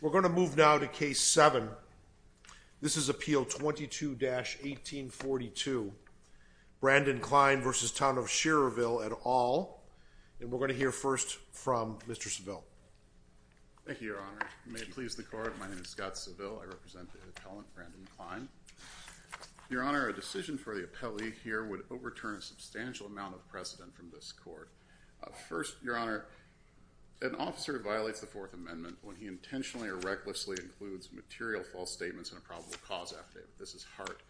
We're going to move now to Case 7. This is Appeal 22-1842, Brandon Klein v. Town of Schererville et al. And we're going to hear first from Mr. Saville. Thank you, Your Honor. May it please the Court, my name is Scott Saville. I represent the appellant, Brandon Klein. Your Honor, a decision for the appellee here would overturn a substantial amount of precedent from this Court. First, Your Honor, an officer violates the Fourth Amendment when he intentionally or recklessly includes material false statements in a probable cause affidavit. This is Hart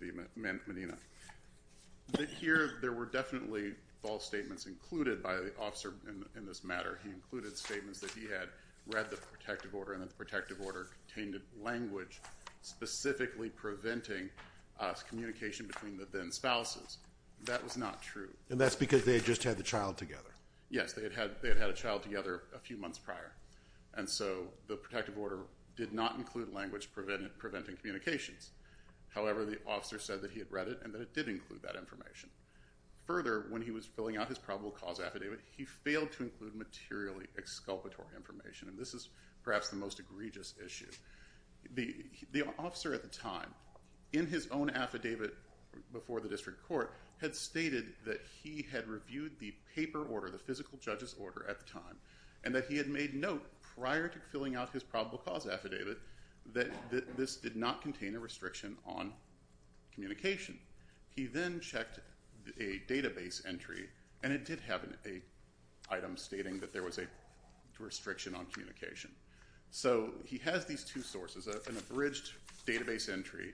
v. Medina. Here, there were definitely false statements included by the officer in this matter. He included statements that he had read the protective order and that the protective order contained language specifically preventing communication between the then spouses. That was not true. And that's because they had just had the child together. Yes, they had had a child together a few months prior. And so the protective order did not include language preventing communications. However, the officer said that he had read it and that it did include that information. Further, when he was filling out his probable cause affidavit, he failed to include materially exculpatory information. And this is perhaps the most egregious issue. The officer at the time, in his own affidavit before the district court, had stated that he had reviewed the paper order, the physical judge's order at the time, and that he had made note prior to filling out his probable cause affidavit that this did not contain a restriction on communication. He then checked a database entry, and it did have an item stating that there was a restriction on communication. So he has these two sources, an abridged database entry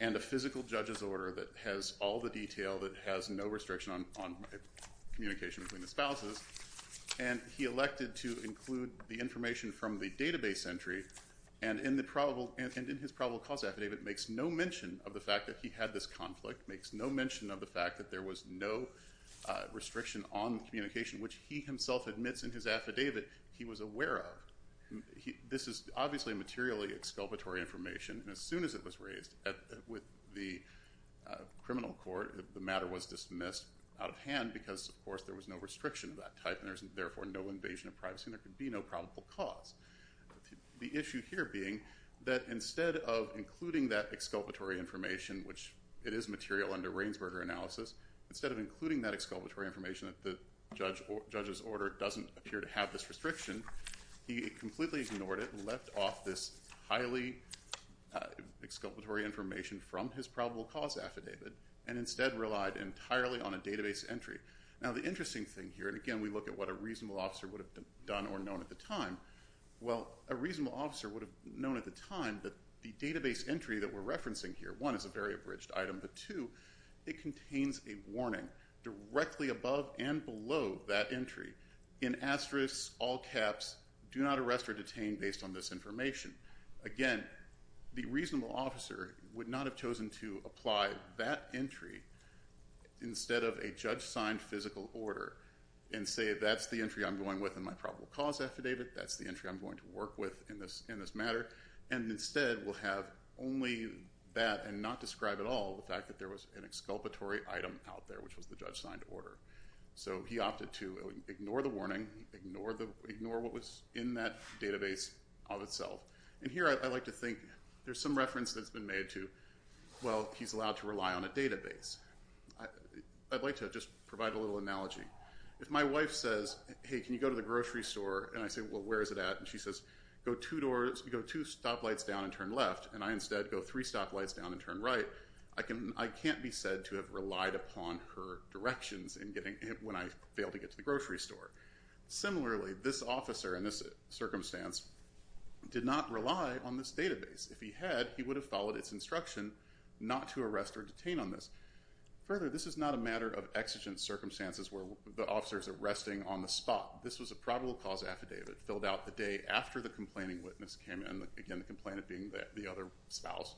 and a physical judge's order that has all the detail that has no restriction on communication between the spouses. And he elected to include the information from the database entry. And in his probable cause affidavit, it makes no mention of the fact that he had this conflict, makes no mention of the fact that there was no restriction on communication, which he himself admits in his affidavit he was aware of. This is obviously materially exculpatory information, and as soon as it was raised with the criminal court, the matter was dismissed out of hand because, of course, there was no restriction of that type, and there was therefore no invasion of privacy, and there could be no probable cause. The issue here being that instead of including that exculpatory information, which it is material under Rainsberger analysis, instead of including that exculpatory information that the judge's order doesn't appear to have this restriction, he completely ignored it and left off this highly exculpatory information from his probable cause affidavit and instead relied entirely on a database entry. Now the interesting thing here, and again we look at what a reasonable officer would have done or known at the time, well, a reasonable officer would have known at the time that the database entry that we're referencing here, one, is a very abridged item, but two, it contains a warning directly above and below that entry. In asterisks, all caps, do not arrest or detain based on this information. Again, the reasonable officer would not have chosen to apply that entry instead of a judge-signed physical order and say that's the entry I'm going with in my probable cause affidavit, that's the entry I'm going to work with in this matter, and instead will have only that and not describe at all the fact that there was an exculpatory item out there, which was the judge-signed order. So he opted to ignore the warning, ignore what was in that database of itself, and here I like to think there's some reference that's been made to, well, he's allowed to rely on a database. I'd like to just provide a little analogy. If my wife says, hey, can you go to the grocery store, and I say, well, where is it at, and she says, go two stoplights down and turn left, and I instead go three stoplights down and turn right, I can't be said to have relied upon her directions when I failed to get to the grocery store. Similarly, this officer in this circumstance did not rely on this database. If he had, he would have followed its instruction not to arrest or detain on this. Further, this is not a matter of exigent circumstances where the officer is arresting on the spot. This was a probable cause affidavit filled out the day after the complaining witness came in, again, the complainant being the other spouse,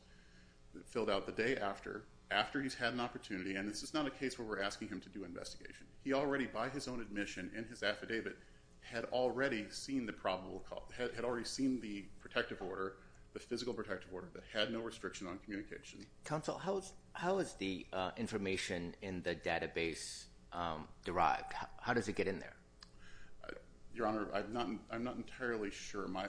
filled out the day after, after he's had an opportunity, and this is not a case where we're asking him to do an investigation. He already, by his own admission in his affidavit, had already seen the probable cause, had already seen the protective order, the physical protective order that had no restriction on communication. Counsel, how is the information in the database derived? How does it get in there? Your Honor, I'm not entirely sure. My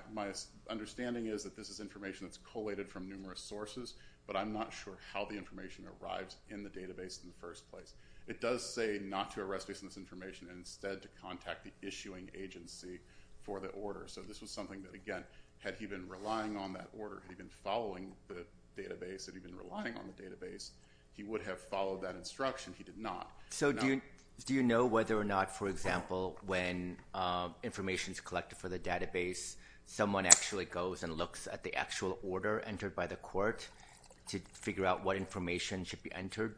understanding is that this is information that's collated from numerous sources, but I'm not sure how the information arrives in the database in the first place. It does say not to arrest based on this information and instead to contact the issuing agency for the order. So this was something that, again, had he been relying on that order, had he been following the database, had he been relying on the database, he would have followed that instruction. He did not. So do you know whether or not, for example, when information is collected for the database, someone actually goes and looks at the actual order entered by the court to figure out what information should be entered?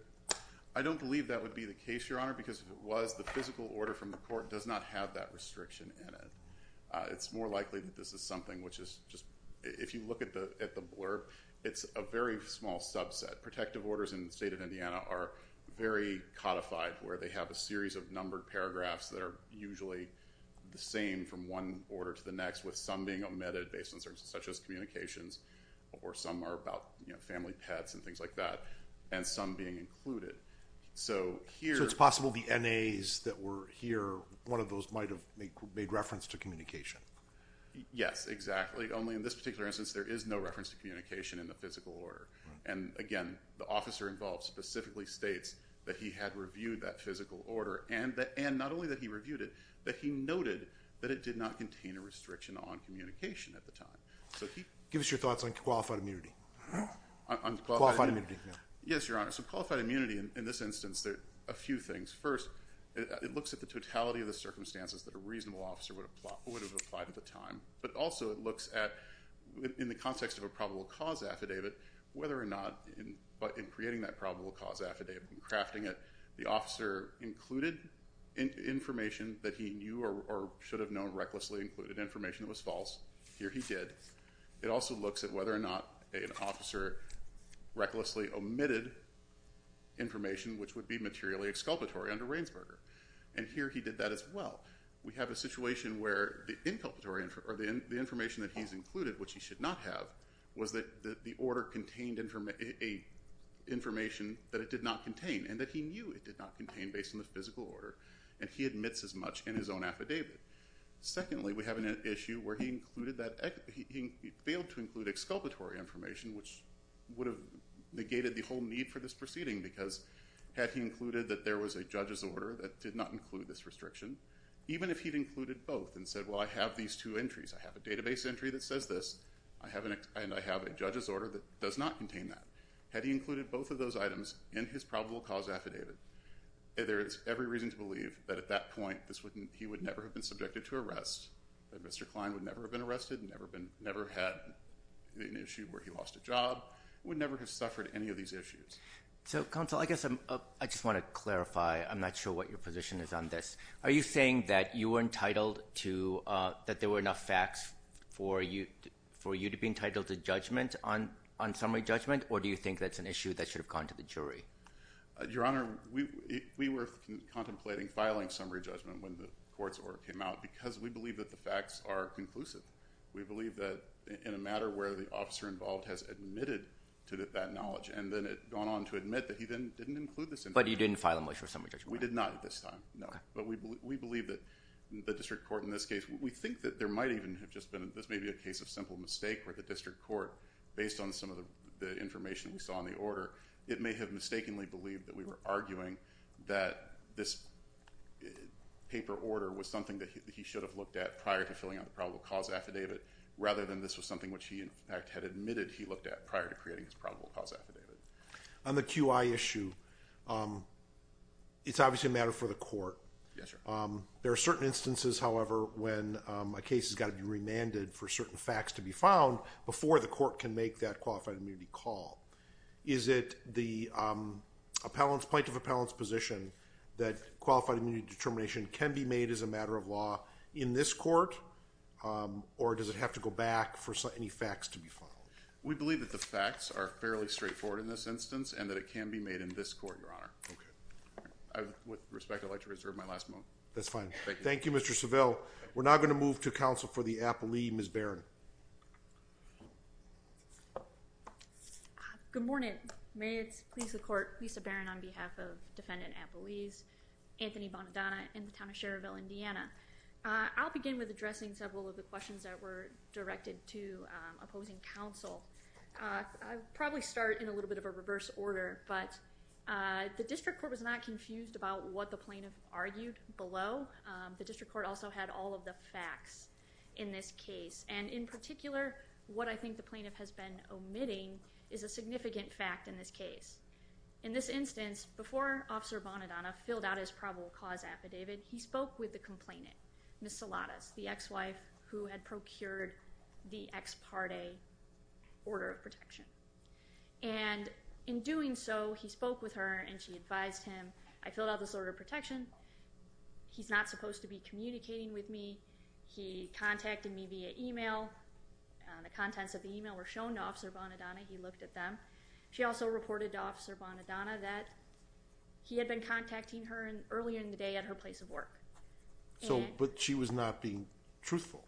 I don't believe that would be the case, Your Honor, because if it was, the physical order from the court does not have that restriction in it. It's more likely that this is something which is just, if you look at the blurb, it's a very small subset. Protective orders in the state of Indiana are very codified, where they have a series of numbered paragraphs that are usually the same from one order to the next, with some being omitted based on certain circumstances, such as communications, or some are about family pets and things like that, and some being included. So it's possible the NAs that were here, one of those might have made reference to communication. Yes, exactly. Only in this particular instance, there is no reference to communication in the physical order. And again, the officer involved specifically states that he had reviewed that physical order, and not only that he reviewed it, but he noted that it did not contain a restriction on communication at the time. Give us your thoughts on qualified immunity. Qualified immunity. Yes, Your Honor. So qualified immunity in this instance, there are a few things. First, it looks at the totality of the circumstances that a reasonable officer would have applied at the time, but also it looks at, in the context of a probable cause affidavit, whether or not in creating that probable cause affidavit and crafting it, the officer included information that he knew or should have known, recklessly included information that was false. Here he did. It also looks at whether or not an officer recklessly omitted information which would be materially exculpatory under Reinsberger. And here he did that as well. We have a situation where the information that he's included, which he should not have, was that the order contained information that it did not contain, and that he knew it did not contain based on the physical order, and he admits as much in his own affidavit. Secondly, we have an issue where he failed to include exculpatory information, which would have negated the whole need for this proceeding, because had he included that there was a judge's order that did not include this restriction, even if he'd included both and said, well, I have these two entries. I have a database entry that says this, and I have a judge's order that does not contain that. Had he included both of those items in his probable cause affidavit, there is every reason to believe that at that point he would never have been subjected to arrest, that Mr. Klein would never have been arrested, never had an issue where he lost a job, would never have suffered any of these issues. So, counsel, I guess I just want to clarify. I'm not sure what your position is on this. Are you saying that you were entitled to – that there were enough facts for you to be entitled to judgment on summary judgment, or do you think that's an issue that should have gone to the jury? Your Honor, we were contemplating filing summary judgment when the court's order came out because we believe that the facts are conclusive. We believe that in a matter where the officer involved has admitted to that knowledge and then gone on to admit that he then didn't include this information. But he didn't file a motion for summary judgment? We did not at this time, no. But we believe that the district court in this case – we think that there might even have just been – this may be a case of simple mistake where the district court, based on some of the information we saw in the order, it may have mistakenly believed that we were arguing that this paper order was something that he should have looked at prior to filling out the probable cause affidavit rather than this was something which he in fact had admitted he looked at prior to creating his probable cause affidavit. On the QI issue, it's obviously a matter for the court. There are certain instances, however, when a case has got to be remanded for certain facts to be found before the court can make that qualified immunity call. Is it the plaintiff appellant's position that qualified immunity determination can be made as a matter of law in this court, or does it have to go back for any facts to be found? We believe that the facts are fairly straightforward in this instance and that it can be made in this court, Your Honor. With respect, I'd like to reserve my last moment. That's fine. Thank you, Mr. Seville. We're now going to move to counsel for the appellee, Ms. Barron. Good morning. May it please the court, Lisa Barron on behalf of defendant appellees, Anthony Bonadonna in the town of Cherville, Indiana. I'll begin with addressing several of the questions that were directed to opposing counsel. I'll probably start in a little bit of a reverse order, but the district court was not confused about what the plaintiff argued below. The district court also had all of the facts in this case. In particular, what I think the plaintiff has been omitting is a significant fact in this case. In this instance, before Officer Bonadonna filled out his probable cause affidavit, he spoke with the complainant, Ms. Saladas, the ex-wife who had procured the ex parte order of protection. In doing so, he spoke with her and she advised him, I filled out this order of protection. He's not supposed to be communicating with me. He contacted me via email. The contents of the email were shown to Officer Bonadonna. He looked at them. She also reported to Officer Bonadonna that he had been contacting her earlier in the day at her place of work. But she was not being truthful?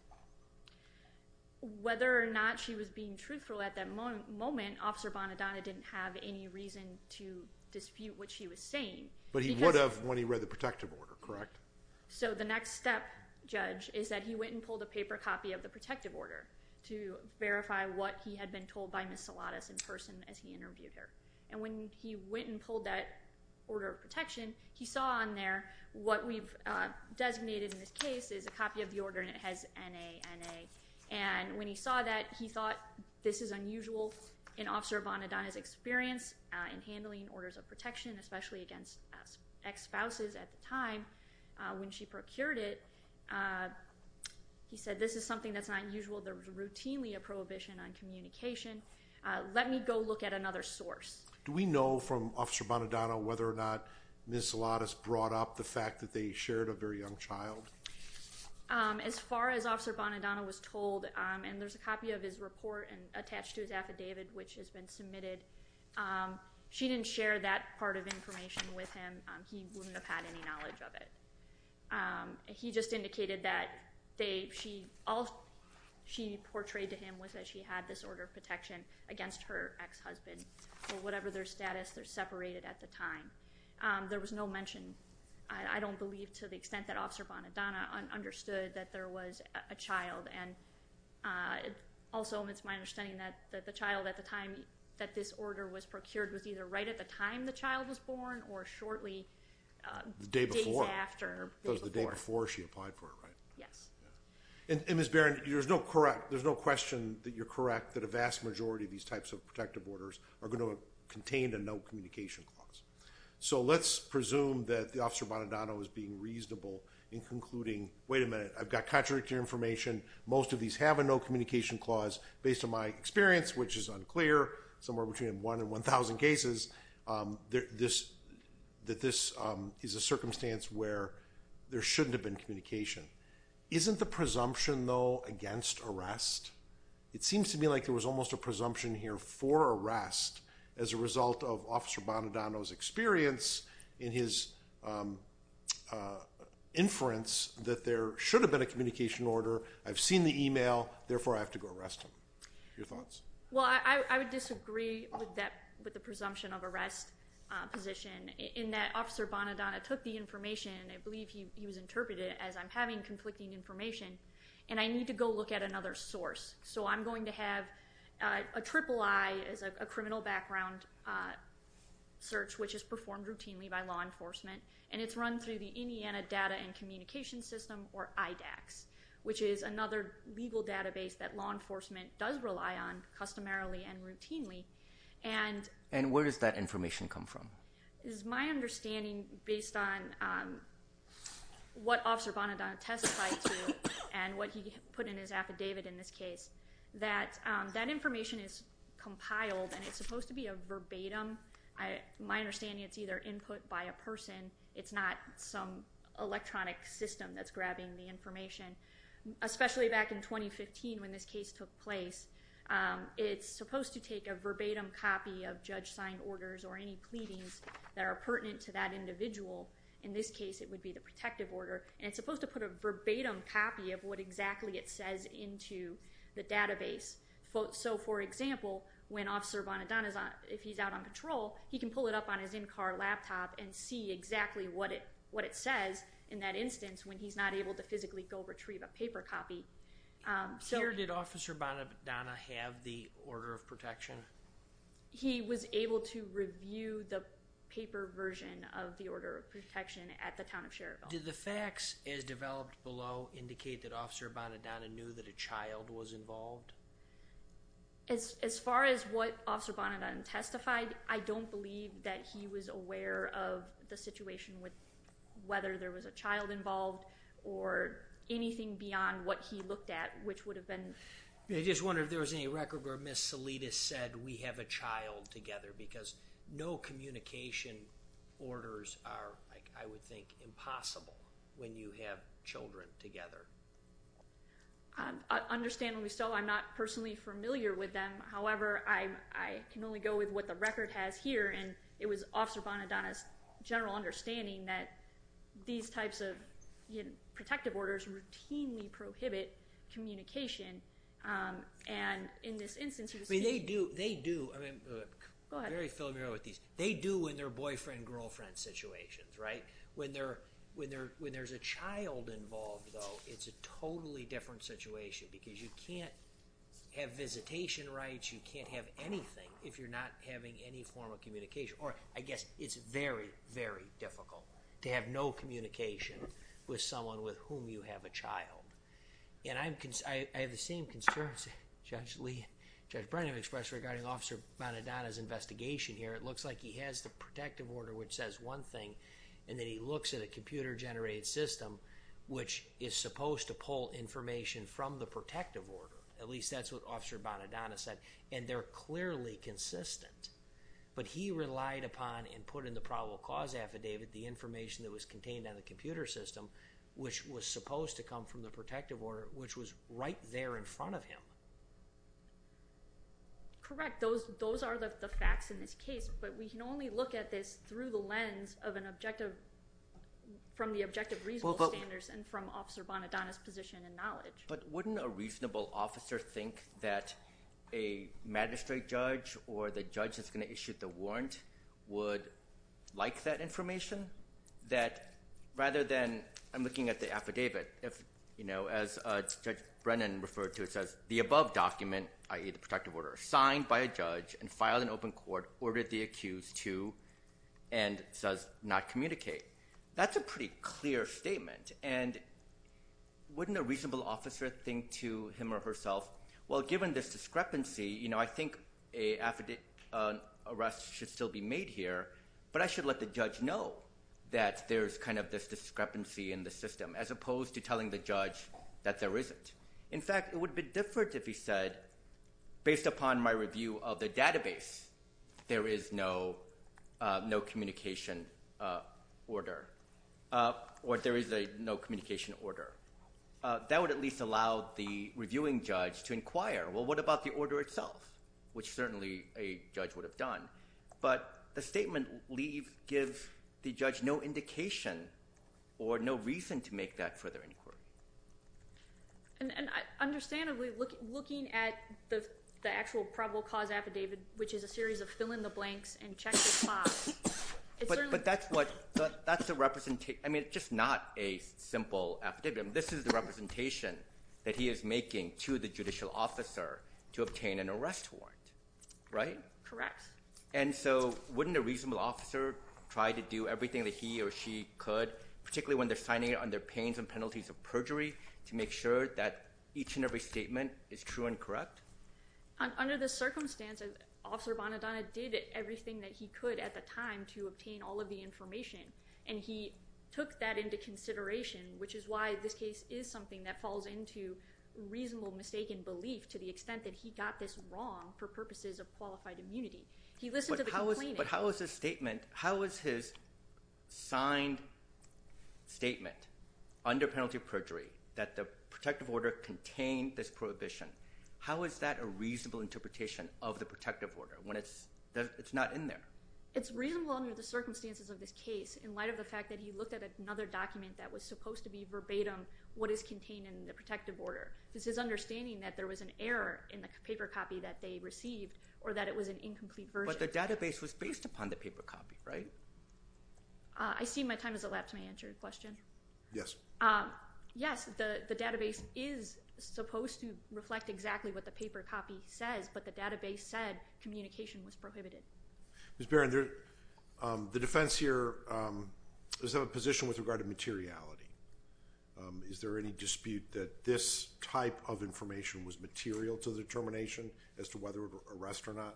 Whether or not she was being truthful at that moment, Officer Bonadonna didn't have any reason to dispute what she was saying. But he would have when he read the protective order, correct? The next step, Judge, is that he went and pulled a paper copy of the protective order to verify what he had been told by Ms. Saladas in person as he interviewed her. When he went and pulled that order of protection, he saw on there what we've designated in this case is a copy of the order and it has N-A-N-A. And when he saw that, he thought this is unusual in Officer Bonadonna's experience in handling orders of protection, especially against ex-spouses at the time when she procured it. He said this is something that's not unusual. There was routinely a prohibition on communication. Let me go look at another source. Do we know from Officer Bonadonna whether or not Ms. Saladas brought up the fact that they shared a very young child? As far as Officer Bonadonna was told, and there's a copy of his report attached to his affidavit which has been submitted, she didn't share that part of information with him. He wouldn't have had any knowledge of it. He just indicated that all she portrayed to him was that she had this order of protection against her ex-husband or whatever their status, they're separated at the time. There was no mention. I don't believe to the extent that Officer Bonadonna understood that there was a child. And also, it's my understanding that the child at the time that this order was procured was either right at the time the child was born or shortly days after the day before. The day before she applied for it, right? Yes. And Ms. Barron, there's no question that you're correct that a vast majority of these types of protective orders are going to contain a no communication clause. So let's presume that Officer Bonadonna was being reasonable in concluding, wait a minute, I've got contradictory information. Most of these have a no communication clause. Based on my experience, which is unclear, somewhere between 1 and 1,000 cases, that this is a circumstance where there shouldn't have been communication. Isn't the presumption, though, against arrest? It seems to me like there was almost a presumption here for arrest as a result of Officer Bonadonna's experience in his inference that there should have been a communication order. I've seen the email. Therefore, I have to go arrest him. Your thoughts? Well, I would disagree with the presumption of arrest position in that Officer Bonadonna took the information, and I believe he was interpreted as I'm having conflicting information, and I need to go look at another source. So I'm going to have a triple I as a criminal background search, which is performed routinely by law enforcement, and it's run through the Indiana Data and Communication System, or IDACS, which is another legal database that law enforcement does rely on customarily and routinely. And where does that information come from? It is my understanding, based on what Officer Bonadonna testified to and what he put in his affidavit in this case, that that information is compiled, and it's supposed to be a verbatim. My understanding, it's either input by a person. It's not some electronic system that's grabbing the information, especially back in 2015 when this case took place. It's supposed to take a verbatim copy of judge-signed orders or any pleadings that are pertinent to that individual. In this case, it would be the protective order, and it's supposed to put a verbatim copy of what exactly it says into the database. So, for example, when Officer Bonadonna is out on patrol, he can pull it up on his in-car laptop and see exactly what it says in that instance when he's not able to physically go retrieve a paper copy. Here, did Officer Bonadonna have the order of protection? He was able to review the paper version of the order of protection at the town of Cherville. Did the facts, as developed below, indicate that Officer Bonadonna knew that a child was involved? As far as what Officer Bonadonna testified, I don't believe that he was aware of the situation with whether there was a child involved or anything beyond what he looked at, which would have been… I just wonder if there was any record where Ms. Salidas said, we have a child together because no communication orders are, I would think, impossible when you have children together. Understandably so. I'm not personally familiar with them. However, I can only go with what the record has here, and it was Officer Bonadonna's general understanding that these types of protective orders routinely prohibit communication, and in this instance he was… They do. They do. I'm very familiar with these. They do in their boyfriend-girlfriend situations, right? When there's a child involved, though, it's a totally different situation because you can't have visitation rights, you can't have anything if you're not having any form of communication. Or, I guess, it's very, very difficult to have no communication with someone with whom you have a child. And I have the same concerns Judge Brennan expressed regarding Officer Bonadonna's investigation here. It looks like he has the protective order, which says one thing, and then he looks at a computer-generated system, which is supposed to pull information from the protective order. At least that's what Officer Bonadonna said. And they're clearly consistent. But he relied upon and put in the probable cause affidavit the information that was contained on the computer system, which was supposed to come from the protective order, which was right there in front of him. Correct. Those are the facts in this case, but we can only look at this through the lens of an objective… But wouldn't a reasonable officer think that a magistrate judge or the judge that's going to issue the warrant would like that information? Rather than looking at the affidavit, as Judge Brennan referred to it, it says the above document, i.e. the protective order, signed by a judge and filed in open court, ordered the accused to and does not communicate. That's a pretty clear statement. And wouldn't a reasonable officer think to him or herself, well, given this discrepancy, I think an arrest should still be made here, but I should let the judge know that there's kind of this discrepancy in the system, as opposed to telling the judge that there isn't. In fact, it would be different if he said, based upon my review of the database, there is no communication order or there is a no communication order. That would at least allow the reviewing judge to inquire, well, what about the order itself, which certainly a judge would have done. But the statement leaves the judge no indication or no reason to make that further inquiry. Understandably, looking at the actual probable cause affidavit, which is a series of fill in the blanks and check the spots, but that's the representation. I mean, it's just not a simple affidavit. This is the representation that he is making to the judicial officer to obtain an arrest warrant, right? Correct. And so wouldn't a reasonable officer try to do everything that he or she could, particularly when they're signing it under pains and penalties of perjury, to make sure that each and every statement is true and correct? Under the circumstances, Officer Bonadonna did everything that he could at the time to obtain all of the information, and he took that into consideration, which is why this case is something that falls into reasonable mistaken belief to the extent that he got this wrong for purposes of qualified immunity. He listened to the complainant. But how is his statement, how is his signed statement under penalty of perjury that the protective order contained this prohibition, how is that a reasonable interpretation of the protective order when it's not in there? It's reasonable under the circumstances of this case in light of the fact that he looked at another document that was supposed to be verbatim what is contained in the protective order. This is understanding that there was an error in the paper copy that they received or that it was an incomplete version. But the database was based upon the paper copy, right? I see my time has elapsed. May I answer your question? Yes. Yes, the database is supposed to reflect exactly what the paper copy says, but the database said communication was prohibited. Ms. Barron, the defense here is of a position with regard to materiality. Is there any dispute that this type of information was material to the determination as to whether arrest or not?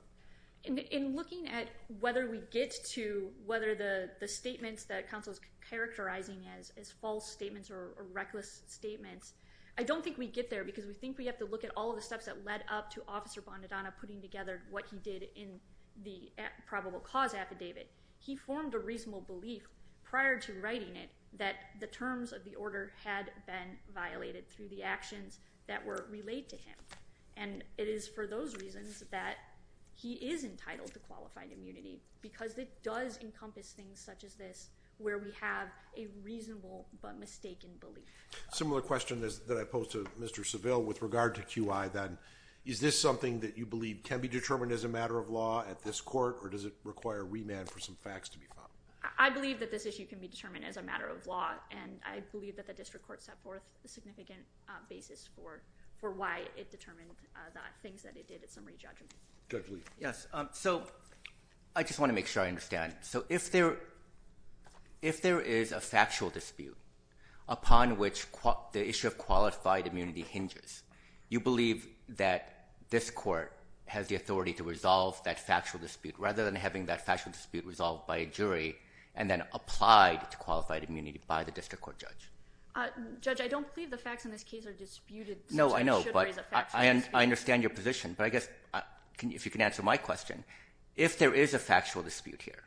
In looking at whether we get to whether the statements that counsel is characterizing as false statements or reckless statements, I don't think we get there because we think we have to look at all of the steps that led up to Officer Bondadonna putting together what he did in the probable cause affidavit. He formed a reasonable belief prior to writing it that the terms of the order had been violated through the actions that were relayed to him. And it is for those reasons that he is entitled to qualified immunity because it does encompass things such as this where we have a reasonable but mistaken belief. Similar question that I posed to Mr. Seville with regard to QI then. Is this something that you believe can be determined as a matter of law at this court or does it require remand for some facts to be found? I believe that this issue can be determined as a matter of law and I believe that the district court set forth a significant basis for why it determined the things that it did at summary judgment. Judge Lee. Yes. So I just want to make sure I understand. So if there is a factual dispute upon which the issue of qualified immunity hinges, you believe that this court has the authority to resolve that factual dispute rather than having that factual dispute resolved by a jury and then applied to qualified immunity by the district court judge? Judge, I don't believe the facts in this case are disputed. No, I know, but I understand your position. But I guess if you can answer my question, if there is a factual dispute here,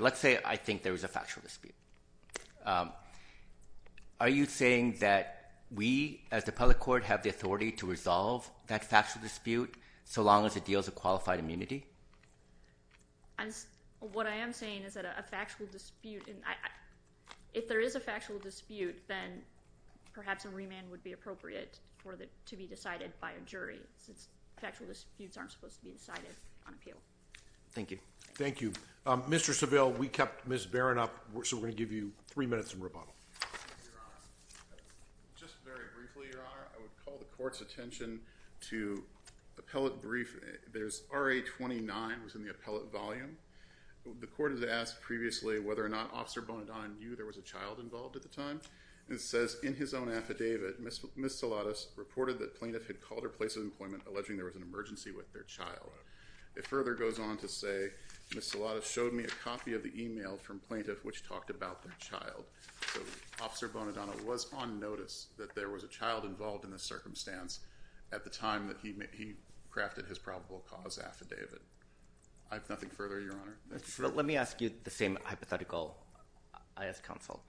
let's say I think there is a factual dispute. Are you saying that we as the public court have the authority to resolve that factual dispute so long as it deals with qualified immunity? What I am saying is that a factual dispute, if there is a factual dispute, then perhaps a remand would be appropriate for it to be decided by a jury since factual disputes aren't supposed to be decided on appeal. Thank you. Thank you. Mr. Saville, we kept Ms. Barron up, so we're going to give you three minutes of rebuttal. Your Honor, just very briefly, Your Honor, I would call the court's attention to appellate brief. There's RA 29 was in the appellate volume. The court has asked previously whether or not Officer Bonadonna knew there was a child involved at the time. It says in his own affidavit, Ms. Saladas reported that plaintiff had called her place of employment alleging there was an emergency with their child. It further goes on to say Ms. Saladas showed me a copy of the email from plaintiff which talked about their child. So Officer Bonadonna was on notice that there was a child involved in this circumstance at the time that he crafted his probable cause affidavit. I have nothing further, Your Honor. Mr. Saville, let me ask you the same hypothetical, I ask counsel.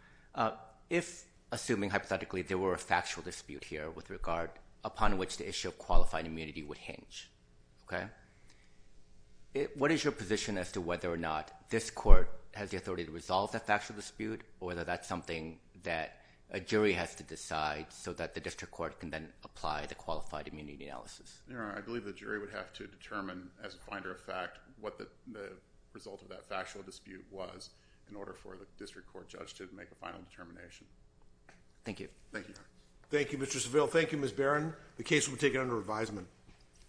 If, assuming hypothetically, there were a factual dispute here with regard upon which the issue of qualified immunity would hinge, okay, what is your position as to whether or not this court has the authority to resolve that factual dispute or whether that's something that a jury has to decide so that the district court can then apply the qualified immunity analysis? Your Honor, I believe the jury would have to determine as a finder of fact what the result of that factual dispute was in order for the district court judge to make a final determination. Thank you. Thank you, Your Honor. Thank you, Mr. Saville. Thank you, Ms. Barron. The case will be taken under revisement.